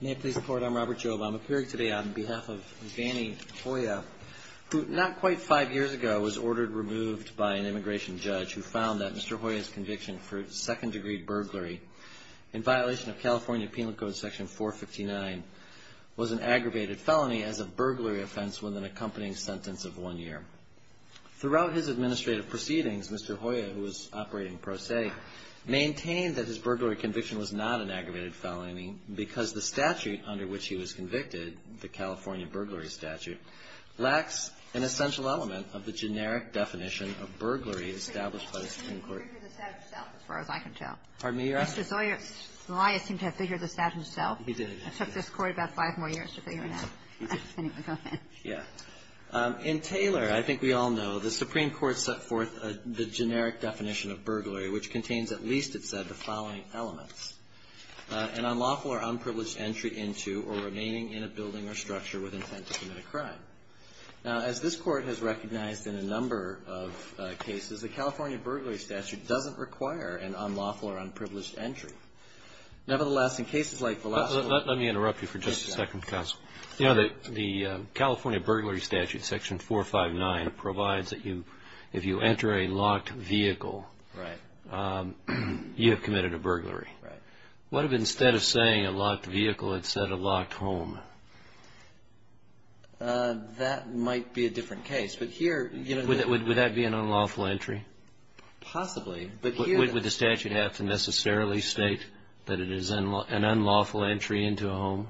May it please the Court, I'm Robert Jobe. I'm appearing today on behalf of Vanny Hoya, who not quite five years ago was ordered removed by an immigration judge who found that Mr. Hoya's conviction for second-degree burglary in violation of California Penal Code Section 459 was an aggravated felony as a burglary offense with an accompanying sentence of one year. Throughout his administrative proceedings, Mr. Hoya, who was operating pro se, maintained that his burglary conviction was not an aggravated felony because the statute under which he was convicted, the California burglary statute, lacks an essential element of the generic definition of burglary established by the Supreme Court. And I'm lawful or unprivileged entry into or remaining in a building or structure with intent to commit a crime. Now, as this Court has recognized in a number of cases, the California burglary statute does not provide a generic definition of burglary. It doesn't require an unlawful or unprivileged entry. Nevertheless, in cases like the last one Let me interrupt you for just a second, counsel. The California burglary statute, section 459, provides that if you enter a locked vehicle, you have committed a burglary. What if instead of saying a locked vehicle, it said a locked home? That might be a different case. But here Would that be an unlawful entry? Possibly. But here Would the statute have to necessarily state that it is an unlawful entry into a home?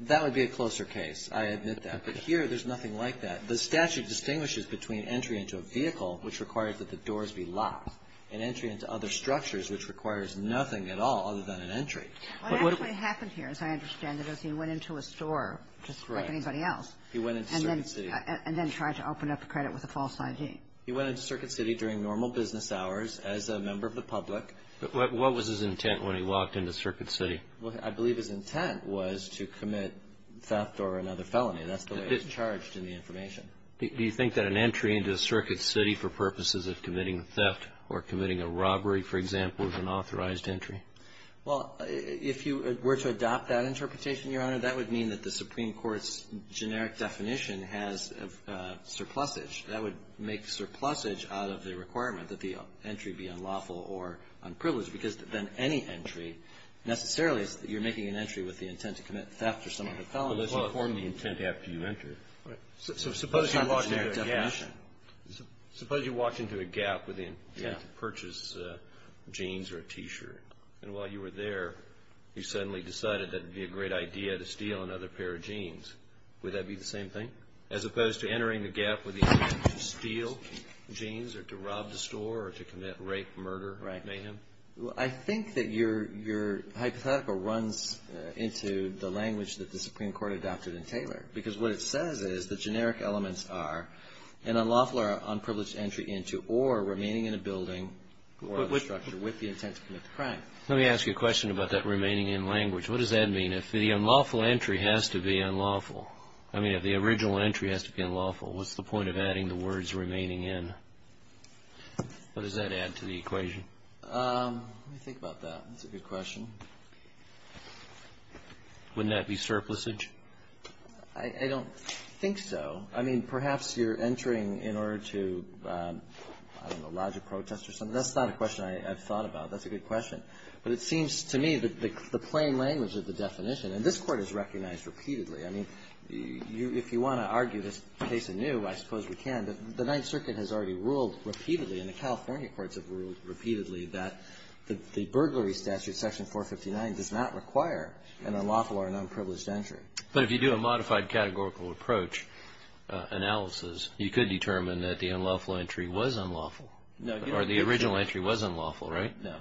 That would be a closer case. I admit that. But here, there's nothing like that. The statute distinguishes between entry into a vehicle, which requires that the doors be locked, and entry into other structures, which requires nothing at all other than an entry. What actually happened here, as I understand it, is he went into a store, just like anybody else, and then He went into Circuit City And then tried to open up a credit with a false ID. He went into Circuit City during normal business hours as a member of the public. What was his intent when he walked into Circuit City? I believe his intent was to commit theft or another felony. That's the way it's charged in the information. Do you think that an entry into Circuit City for purposes of committing theft or committing a robbery, for example, is an authorized entry? Well, if you were to adopt that interpretation, Your Honor, that would mean that the Supreme that the entry be unlawful or unprivileged. Because then any entry necessarily is that you're making an entry with the intent to commit theft or some other felony. Unless you form the intent after you enter it. Suppose you walked into a gap with the intent to purchase jeans or a T-shirt. And while you were there, you suddenly decided that it would be a great idea to steal another pair of jeans. Would that be the same thing? As opposed to entering the gap with the intent to steal jeans or to rob the store or to commit rape, murder, mayhem? I think that your hypothetical runs into the language that the Supreme Court adopted in Taylor. Because what it says is the generic elements are an unlawful or unprivileged entry into or remaining in a building or other structure with the intent to commit the crime. Let me ask you a question about that remaining in language. What does that mean? If the unlawful entry has to be unlawful. I mean, if the original entry has to be unlawful, what's the point of adding the words remaining in? What does that add to the equation? Let me think about that. That's a good question. Wouldn't that be surplusage? I don't think so. I mean, perhaps you're entering in order to, I don't know, lodge a protest or something. That's not a question I've thought about. That's a good question. But it seems to me that the plain language of the definition, and this Court has recognized repeatedly. I mean, if you want to argue this case anew, I suppose we can. But the Ninth Circuit has already ruled repeatedly, and the California courts have ruled repeatedly that the burglary statute, Section 459, does not require an unlawful or an unprivileged entry. But if you do a modified categorical approach analysis, you could determine that the unlawful entry was unlawful. No. Or the original entry was unlawful, right? No.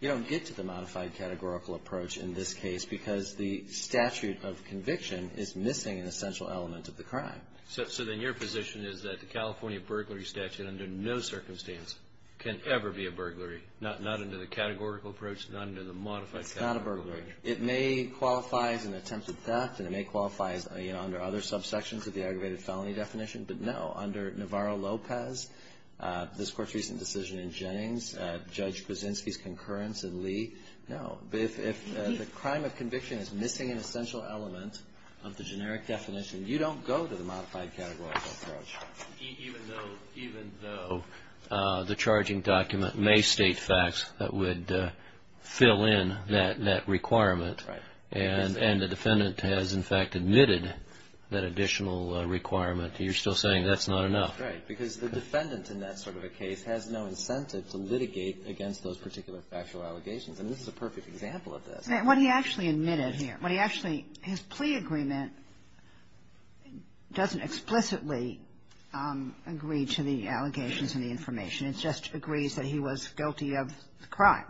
You don't get to the modified categorical approach in this case because the statute of conviction is missing an essential element of the crime. So then your position is that the California burglary statute under no circumstance can ever be a burglary, not under the categorical approach, not under the modified categorical approach? It's not a burglary. It may qualify as an attempted theft, and it may qualify under other subsections of the aggravated felony definition, but no. Under Navarro-Lopez, this Court's recent decision in Jennings, Judge Krasinski's concurrence in Lee, no. If the crime of conviction is missing an essential element of the generic definition, you don't go to the modified categorical approach. Even though the charging document may state facts that would fill in that requirement and the defendant has, in fact, admitted that additional requirement, you're still saying that's not enough? Right. Because the defendant in that sort of a case has no incentive to litigate against those particular factual allegations. And this is a perfect example of this. What he actually admitted here, what he actually his plea agreement doesn't explicitly agree to the allegations and the information. It just agrees that he was guilty of the crime.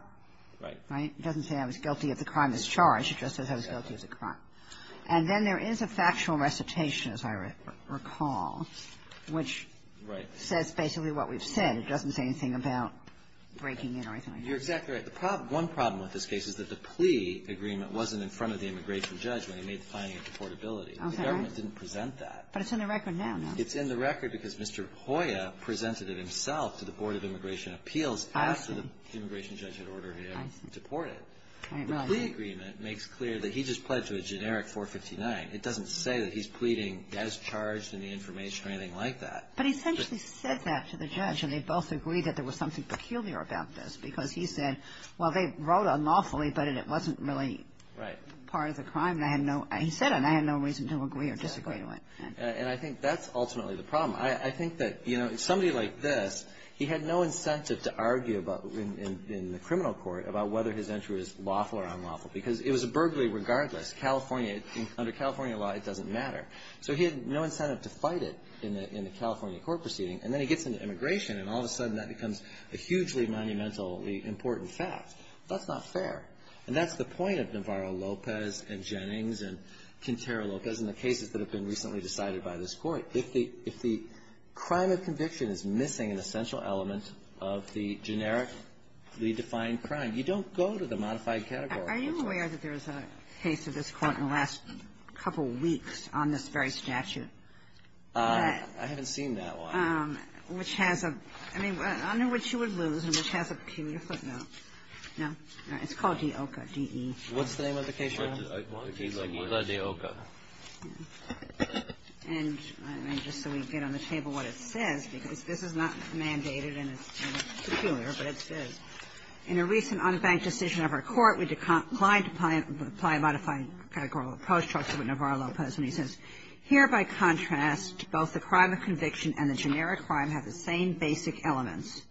Right. Right? It doesn't say I was guilty of the crime that's charged. It just says I was guilty of the crime. And then there is a factual recitation, as I recall, which says basically what we've said. It doesn't say anything about breaking in or anything like that. You're exactly right. One problem with this case is that the plea agreement wasn't in front of the immigration judge when he made the finding of deportability. Okay. The government didn't present that. But it's in the record now, no? It's in the record because Mr. Hoyer presented it himself to the Board of Immigration Appeals after the immigration judge had ordered him deported. I see. The plea agreement makes clear that he just pledged to a generic 459. It doesn't say that he's pleading as charged in the information or anything like that. But he essentially said that to the judge, and they both agreed that there was something peculiar about this because he said, well, they wrote unlawfully, but it wasn't really part of the crime. Right. And I had no – he said it, and I had no reason to agree or disagree to it. Exactly. And I think that's ultimately the problem. I think that, you know, somebody like this, he had no incentive to argue about – in the criminal court about whether his entry was lawful or unlawful because it was a burglary regardless. California – under California law, it doesn't matter. So he had no incentive to fight it in the – in the California court proceeding. And then he gets into immigration, and all of a sudden, that becomes a hugely monumentally important fact. That's not fair. And that's the point of Navarro-Lopez and Jennings and Quintero-Lopez and the cases that have been recently decided by this Court. If the – if the crime of conviction is missing an essential element of the generic, redefined crime, you don't go to the modified category. Are you aware that there is a case of this Court in the last couple weeks on this very statute? I haven't seen that one. Which has a – I mean, under which you would lose and which has a – can you flip that? No? It's called De Oca, D-E-O-C-A. What's the name of the case? De Oca. And just so we get on the table what it says, because this is not mandated and it's peculiar, but it says, In a recent unbanked decision of our Court, we declined to apply a modified categorical approach. It talks about Navarro-Lopez, and he says, Here, by contrast, both the crime of conviction and the generic crime have the same basic elements.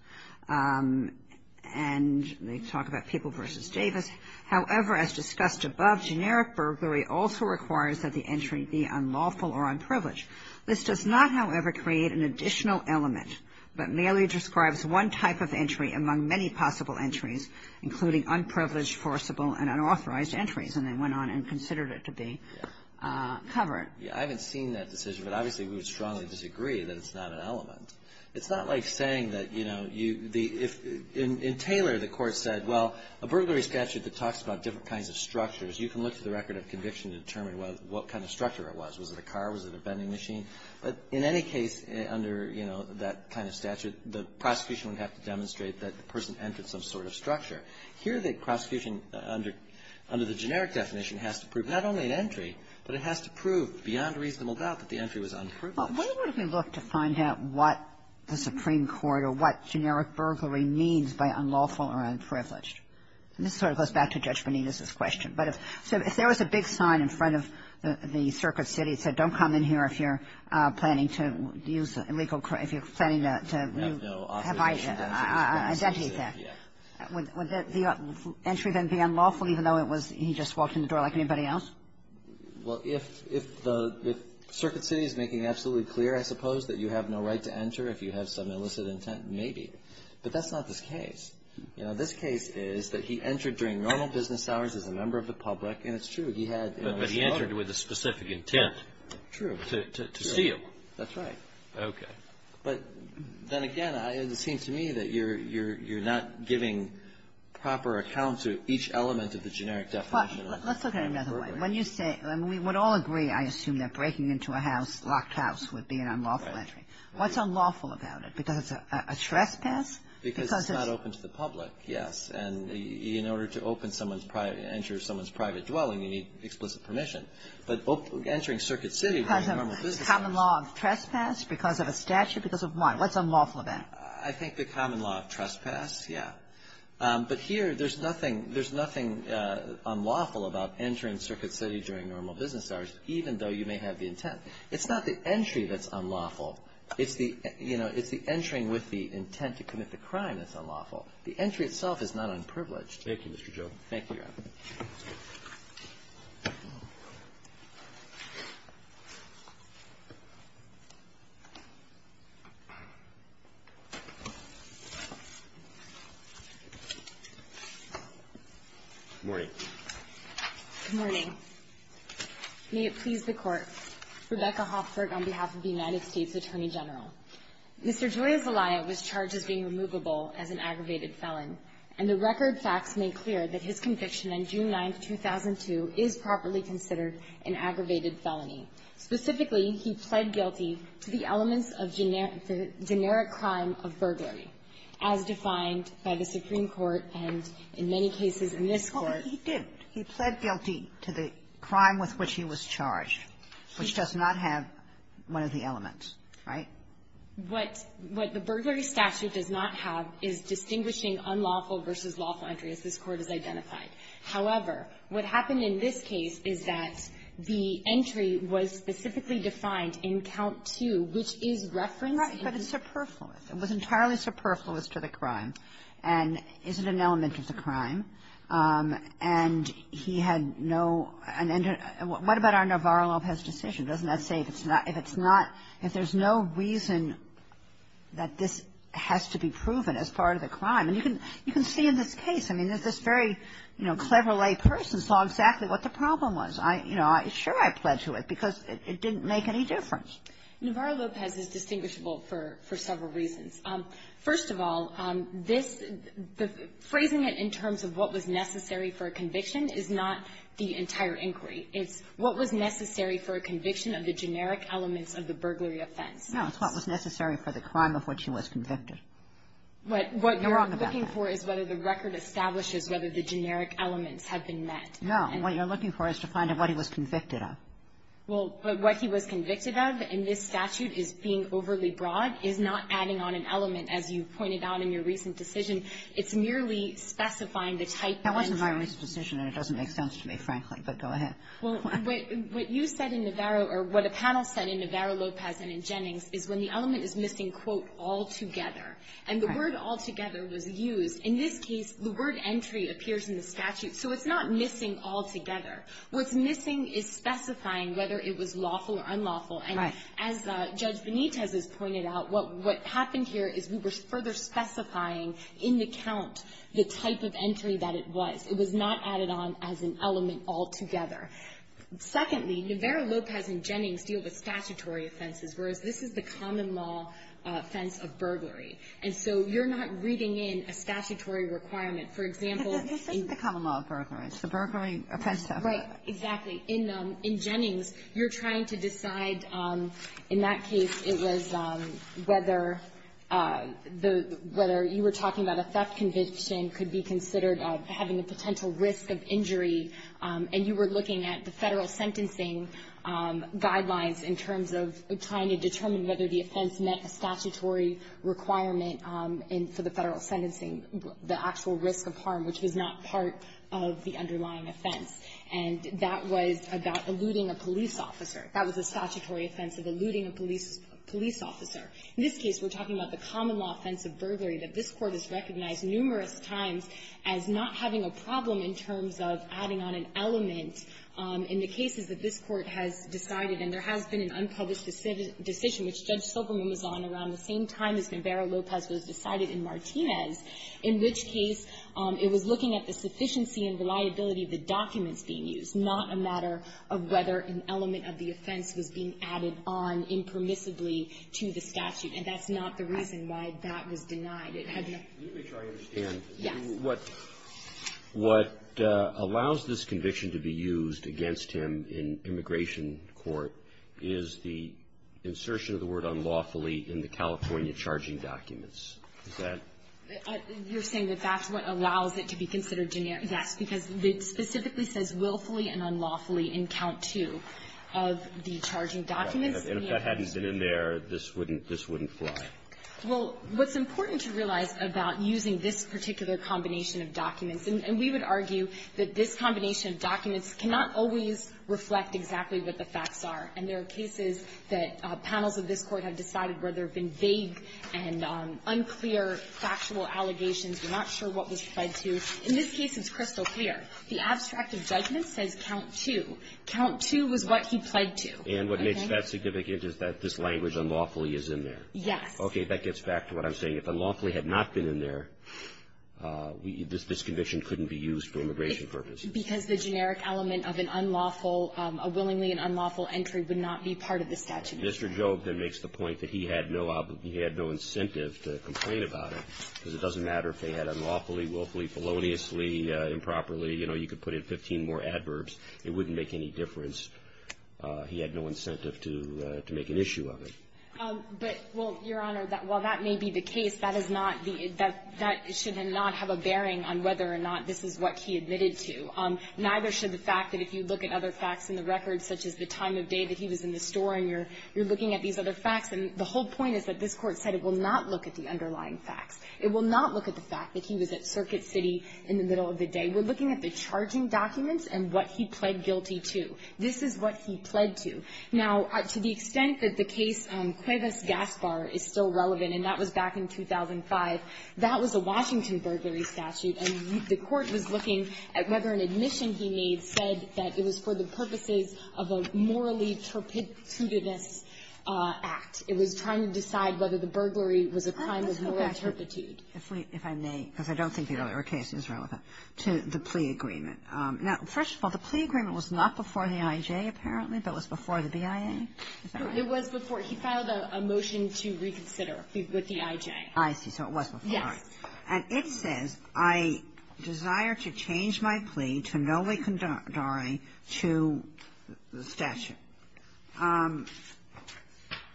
And they talk about People v. Davis. However, as discussed above, generic burglary also requires that the entry be unlawful or unprivileged. This does not, however, create an additional element, but merely describes one type of entry among many possible entries, including unprivileged, forcible, and unauthorized entries. And they went on and considered it to be covered. Yeah. I haven't seen that decision, but obviously we would strongly disagree that it's not an element. It's not like saying that, you know, you – if – in Taylor, the Court said, well, a burglary statute that talks about different kinds of structures, you can look through the record of conviction to determine what kind of structure it was. Was it a car? Was it a vending machine? But in any case, under, you know, that kind of statute, the prosecution would have to demonstrate that the person entered some sort of structure. Here, the prosecution under – under the generic definition has to prove not only an entry, but it has to prove beyond reasonable doubt that the entry was unproved. Well, what if we look to find out what the Supreme Court or what generic burglary means by unlawful or unprivileged? And this sort of goes back to Judge Menendez's question. But if – so if there was a big sign in front of the circuit city that said, don't come in here if you're planning to use illegal – if you're planning to – We have no authorization to do that. Identify that. Yeah. Would the entry then be unlawful, even though it was – he just walked in the door like anybody else? Well, if the – if Circuit City is making absolutely clear, I suppose, that you have no right to enter if you have some illicit intent, maybe. But that's not this case. You know, this case is that he entered during normal business hours as a member of the public. And it's true. He had – But he entered with a specific intent. True. To see him. That's right. Okay. But then again, it seems to me that you're – you're not giving proper account to each element of the generic definition. Let's look at it another way. When you say – and we would all agree, I assume, that breaking into a house, locked house, would be an unlawful entry. What's unlawful about it? Because it's a trespass? Because it's not open to the public, yes. And in order to open someone's – enter someone's private dwelling, you need explicit permission. But entering Circuit City during normal business hours – Because of common law of trespass? Because of a statute? Because of what? What's unlawful about it? I think the common law of trespass, yeah. But here, there's nothing – there's nothing unlawful about entering Circuit City during normal business hours, even though you may have the intent. It's not the entry that's unlawful. It's the – you know, it's the entering with the intent to commit the crime that's unlawful. The entry itself is not unprivileged. Thank you, Mr. Joe. Thank you, Your Honor. Good morning. Good morning. May it please the Court. Rebecca Hoffberg on behalf of the United States Attorney General. Mr. Joya Zelaya was charged as being removable as an aggravated felon, and the record facts make clear that his conviction on June 9, 2002, is properly considered an aggravated felony. Specifically, he pled guilty to the elements of generic crime of burglary, as defined by the Supreme Court and in many cases in this Court. But he did. He pled guilty to the crime with which he was charged, which does not have one of the elements, right? What – what the burglary statute does not have is distinguishing unlawful versus lawful entry, as this Court has identified. However, what happened in this case is that the entry was specifically defined in Count 2, which is referencing the – Right. But it's superfluous. It was entirely superfluous to the crime and isn't an element of the crime. And he had no – and what about our Navarro-Lopez decision? Doesn't that say if it's not – if it's not – if there's no reason that this has to be proven as part of the crime? And you can – you can see in this case, I mean, that this very, you know, clever layperson saw exactly what the problem was. I – you know, sure I pled to it because it didn't make any difference. Navarro-Lopez is distinguishable for – for several reasons. First of all, this – phrasing it in terms of what was necessary for a conviction is not the entire inquiry. It's what was necessary for a conviction of the generic elements of the burglary offense. No. It's what was necessary for the crime of which he was convicted. But what you're looking for is whether the record establishes whether the generic elements have been met. No. And what you're looking for is to find out what he was convicted of. Well, but what he was convicted of in this statute is being overly broad, is not adding on an element, as you pointed out in your recent decision. It's merely specifying the type of entry. That wasn't my recent decision, and it doesn't make sense to me, frankly. But go ahead. Well, what you said in Navarro or what a panel said in Navarro-Lopez and in Jennings is when the element is missing, quote, altogether. And the word altogether was used. In this case, the word entry appears in the statute. So it's not missing altogether. What's missing is specifying whether it was lawful or unlawful. Right. And as Judge Benitez has pointed out, what happened here is we were further specifying in the count the type of entry that it was. It was not added on as an element altogether. Secondly, Navarro-Lopez and Jennings deal with statutory offenses, whereas this is the common law offense of burglary. And so you're not reading in a statutory requirement. For example — This isn't the common law of burglary. It's the burglary offense of — Right. Exactly. In Jennings, you're trying to decide, in that case, it was whether the — whether you were talking about a theft conviction could be considered having a potential risk of injury, and you were looking at the Federal sentencing guidelines in terms of trying to determine whether the offense met a statutory requirement for the Federal sentencing, the actual risk of harm, which was not part of the underlying offense. And that was about eluding a police officer. That was a statutory offense of eluding a police officer. In this case, we're talking about the common law offense of burglary that this Court has recognized numerous times as not having a problem in terms of adding on an element in the cases that this Court has decided. And there has been an unpublished decision, which Judge the documents being used, not a matter of whether an element of the offense was being added on impermissibly to the statute. And that's not the reason why that was denied. It had no — Let me try to understand. Yes. What allows this conviction to be used against him in immigration court is the insertion of the word unlawfully in the California charging documents. Is that — You're saying that that's what allows it to be considered generic. Yes. Because it specifically says willfully and unlawfully in count two of the charging documents. And if that hadn't been in there, this wouldn't — this wouldn't fly. Well, what's important to realize about using this particular combination of documents — and we would argue that this combination of documents cannot always reflect exactly what the facts are. And there are cases that panels of this Court have decided where there have been vague and unclear factual allegations. We're not sure what was pled to. In this case, it's crystal clear. The abstract of judgment says count two. Count two was what he pled to. Okay? And what makes that significant is that this language unlawfully is in there. Yes. Okay. That gets back to what I'm saying. If unlawfully had not been in there, this conviction couldn't be used for immigration purposes. Because the generic element of an unlawful — a willingly and unlawful entry would not be part of the statute. Mr. Jobe then makes the point that he had no — he had no incentive to complain about it, because it doesn't matter if they had unlawfully, willfully, feloniously, improperly. You know, you could put in 15 more adverbs. It wouldn't make any difference. He had no incentive to make an issue of it. But, well, Your Honor, while that may be the case, that is not the — that should not have a bearing on whether or not this is what he admitted to. Neither should the fact that if you look at other facts in the record, such as the fact that you're looking at these other facts, and the whole point is that this Court said it will not look at the underlying facts. It will not look at the fact that he was at Circuit City in the middle of the day. We're looking at the charging documents and what he pled guilty to. This is what he pled to. Now, to the extent that the case on Cuevas Gaspar is still relevant, and that was back in 2005, that was a Washington burglary statute. And the Court was looking at whether an admission he made said that it was for the It was trying to decide whether the burglary was a crime of moral turpitude. Kagan. If I may, because I don't think the earlier case is relevant, to the plea agreement. Now, first of all, the plea agreement was not before the I.J., apparently, but was before the BIA? It was before — he filed a motion to reconsider with the I.J. I see. So it was before. Yes. And it says, I desire to change my plea to no le condore to the statute.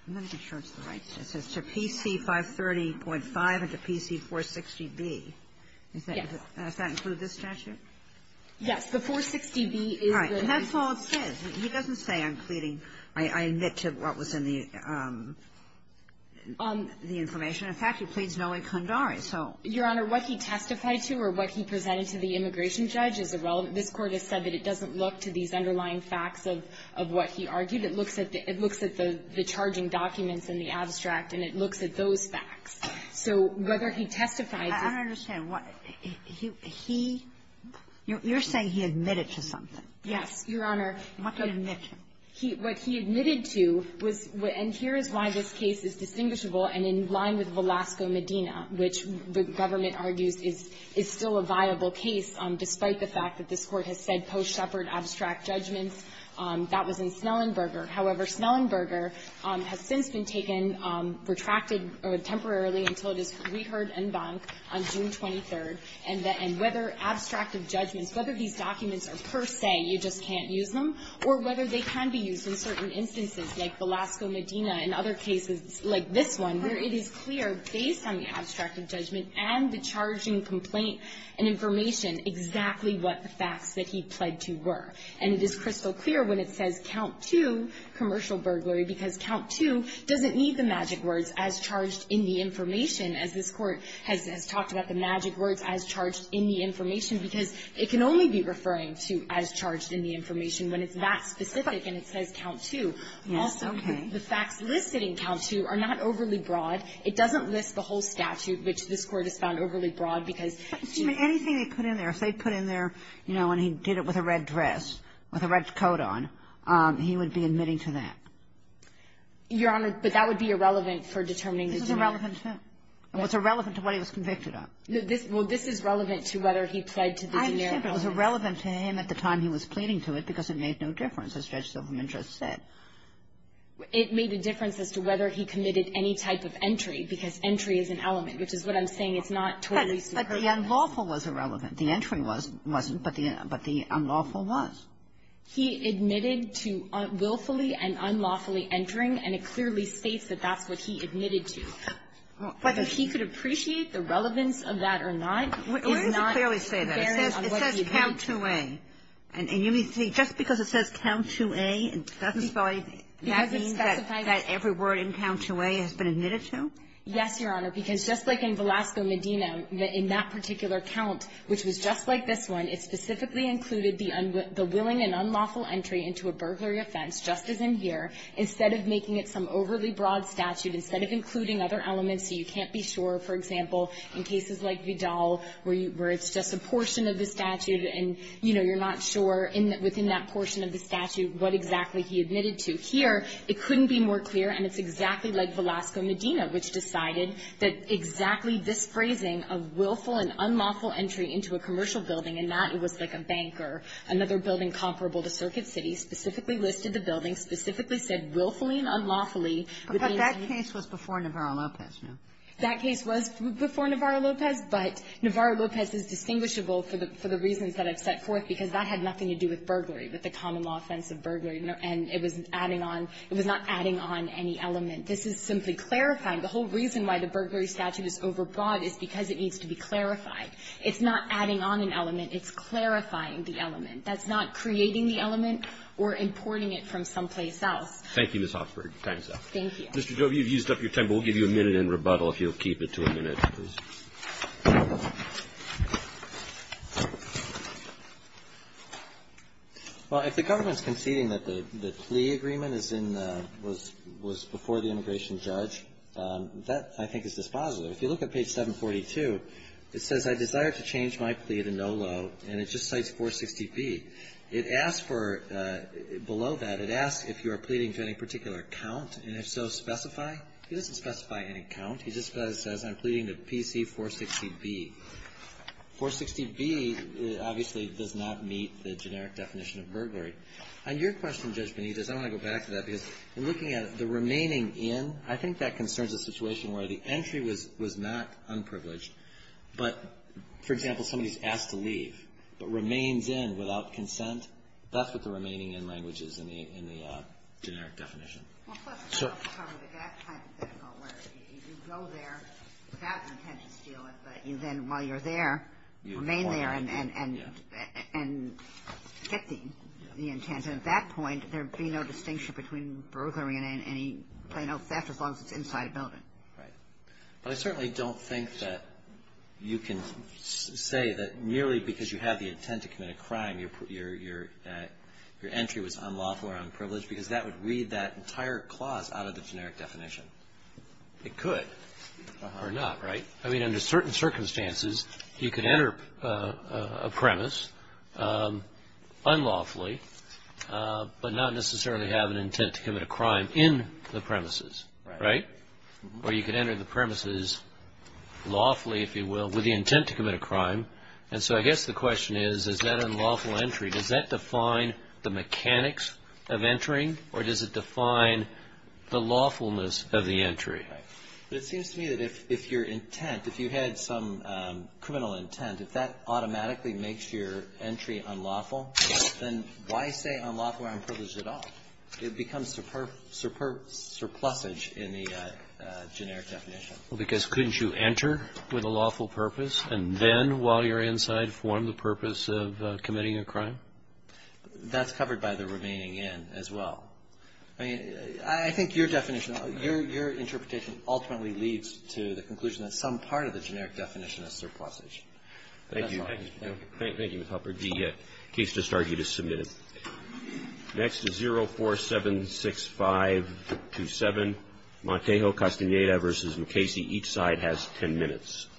I'm not even sure it's the right statute. It says to PC530.5 and to PC460B. Yes. Does that include this statute? Yes. The 460B is the — Right. And that's all it says. He doesn't say I'm pleading — I admit to what was in the information. In fact, he pleads no le condore. So — Your Honor, what he testified to or what he presented to the immigration judge is irrelevant. This Court has said that it doesn't look to these underlying facts of what he argued. It looks at the — it looks at the charging documents and the abstract, and it looks at those facts. So whether he testifies — I don't understand. What — he — you're saying he admitted to something. Yes, Your Honor. What did he admit to? He — what he admitted to was — and here is why this case is distinguishable and in line with Velasco-Medina, which the government argues is still a viable case despite the fact that this Court has said post-Shepard abstract judgments. That was in Snellenberger. However, Snellenberger has since been taken — retracted temporarily until it is reheard en banc on June 23rd. And whether abstractive judgments, whether these documents are per se, you just can't use them, or whether they can be used in certain instances like Velasco-Medina and other cases like this one, where it is clear, based on the abstract judgment and the charging complaint and information, exactly what the facts that he pled to were. And it is crystal clear when it says count two, commercial burglary, because count two doesn't need the magic words, as charged in the information, as this Court has talked about the magic words, as charged in the information, because it can only be referring to as charged in the information when it's that specific and it says count two. Also, the facts listed in count two are not overly broad. It doesn't list the whole statute, which this Court has found overly broad, because — Kagan. Anything they put in there, if they put in there, you know, and he did it with a red dress, with a red coat on, he would be admitting to that. Your Honor, but that would be irrelevant for determining the generic. This is irrelevant to him. It was irrelevant to what he was convicted of. Well, this is relevant to whether he pled to the generic. I understand, but it was irrelevant to him at the time he was pleading to it because it made no difference, as Judge Silverman just said. It made a difference as to whether he committed any type of entry, because entry is an element, which is what I'm saying. It's not totally superior. But the unlawful was irrelevant. The entry wasn't, but the unlawful was. He admitted to willfully and unlawfully entering, and it clearly states that that's what he admitted to. Whether he could appreciate the relevance of that or not is not — Why does it clearly say that? It says count 2A. And you mean to say just because it says count 2A, it doesn't specify that every word in count 2A has been admitted to? Yes, Your Honor, because just like in Velasco Medina, in that particular count, which was just like this one, it specifically included the willing and unlawful entry into a burglary offense, just as in here, instead of making it some overly broad statute, instead of including other elements so you can't be sure. For example, in cases like Vidal, where it's just a portion of the statute and, you know, you're not sure within that portion of the statute what exactly he admitted to. Here, it couldn't be more clear, and it's exactly like Velasco Medina, which decided that exactly this phrasing of willful and unlawful entry into a commercial building, and that it was like a bank or another building comparable to Circuit City, specifically listed the building, specifically said willfully and unlawfully But that case was before Navarro-Lopez, no? That case was before Navarro-Lopez, but Navarro-Lopez is distinguishable for the reasons that I've set forth, because that had nothing to do with burglary, with the common law offense of burglary, and it was adding on – it was not adding on any element. This is simply clarifying. The whole reason why the burglary statute is overbroad is because it needs to be clarified. It's not adding on an element. It's clarifying the element. That's not creating the element or importing it from someplace else. Thank you, Ms. Hofsberg. Your time is up. Thank you. Mr. Jove, you've used up your time, but we'll give you a minute in rebuttal if you'll keep it to a minute. Well, if the government's conceding that the plea agreement is in the – was before the immigration judge, that, I think, is dispositive. If you look at page 742, it says, I desire to change my plea to no loan, and it just cites 460B. It asks for – below that, it asks if you are pleading to any particular count, and if so, specify. It doesn't specify any count. It just says, I'm pleading to PC-460B. 460B obviously does not meet the generic definition of burglary. On your question, Judge Benitez, I want to go back to that, because in looking at the remaining in, I think that concerns a situation where the entry was not unprivileged, but, for example, somebody's asked to leave but remains in without consent, that's what the remaining in language is in the generic definition. So – Well, that's the problem with that kind of thing, though, where if you go there without an intent to steal it, but you then, while you're there, remain there and get the intent. And at that point, there'd be no distinction between burglary and any plain old theft as long as it's inside a building. Right. But I certainly don't think that you can say that merely because you have the intent to commit a crime, your entry was unlawful or unprivileged, because that would read that entire clause out of the generic definition. It could. Or not, right? I mean, under certain circumstances, you could enter a premise unlawfully, but not necessarily have an intent to commit a crime in the premises, right? Or you could enter the premises lawfully, if you will, with the unlawful entry. Does that define the mechanics of entering, or does it define the lawfulness of the entry? Right. But it seems to me that if your intent, if you had some criminal intent, if that automatically makes your entry unlawful, then why say unlawful or unprivileged at all? It becomes surplusage in the generic definition. Well, because couldn't you enter with a lawful purpose and then, while you're inside, form the purpose of committing a crime? That's covered by the remaining N as well. I mean, I think your definition, your interpretation ultimately leads to the conclusion that some part of the generic definition is surplusage. Thank you. Thank you, Mr. Halpern. The case just started. You just submitted it. Next is 0476527, Montejo Castaneda v. McKaysey. Each side has ten minutes.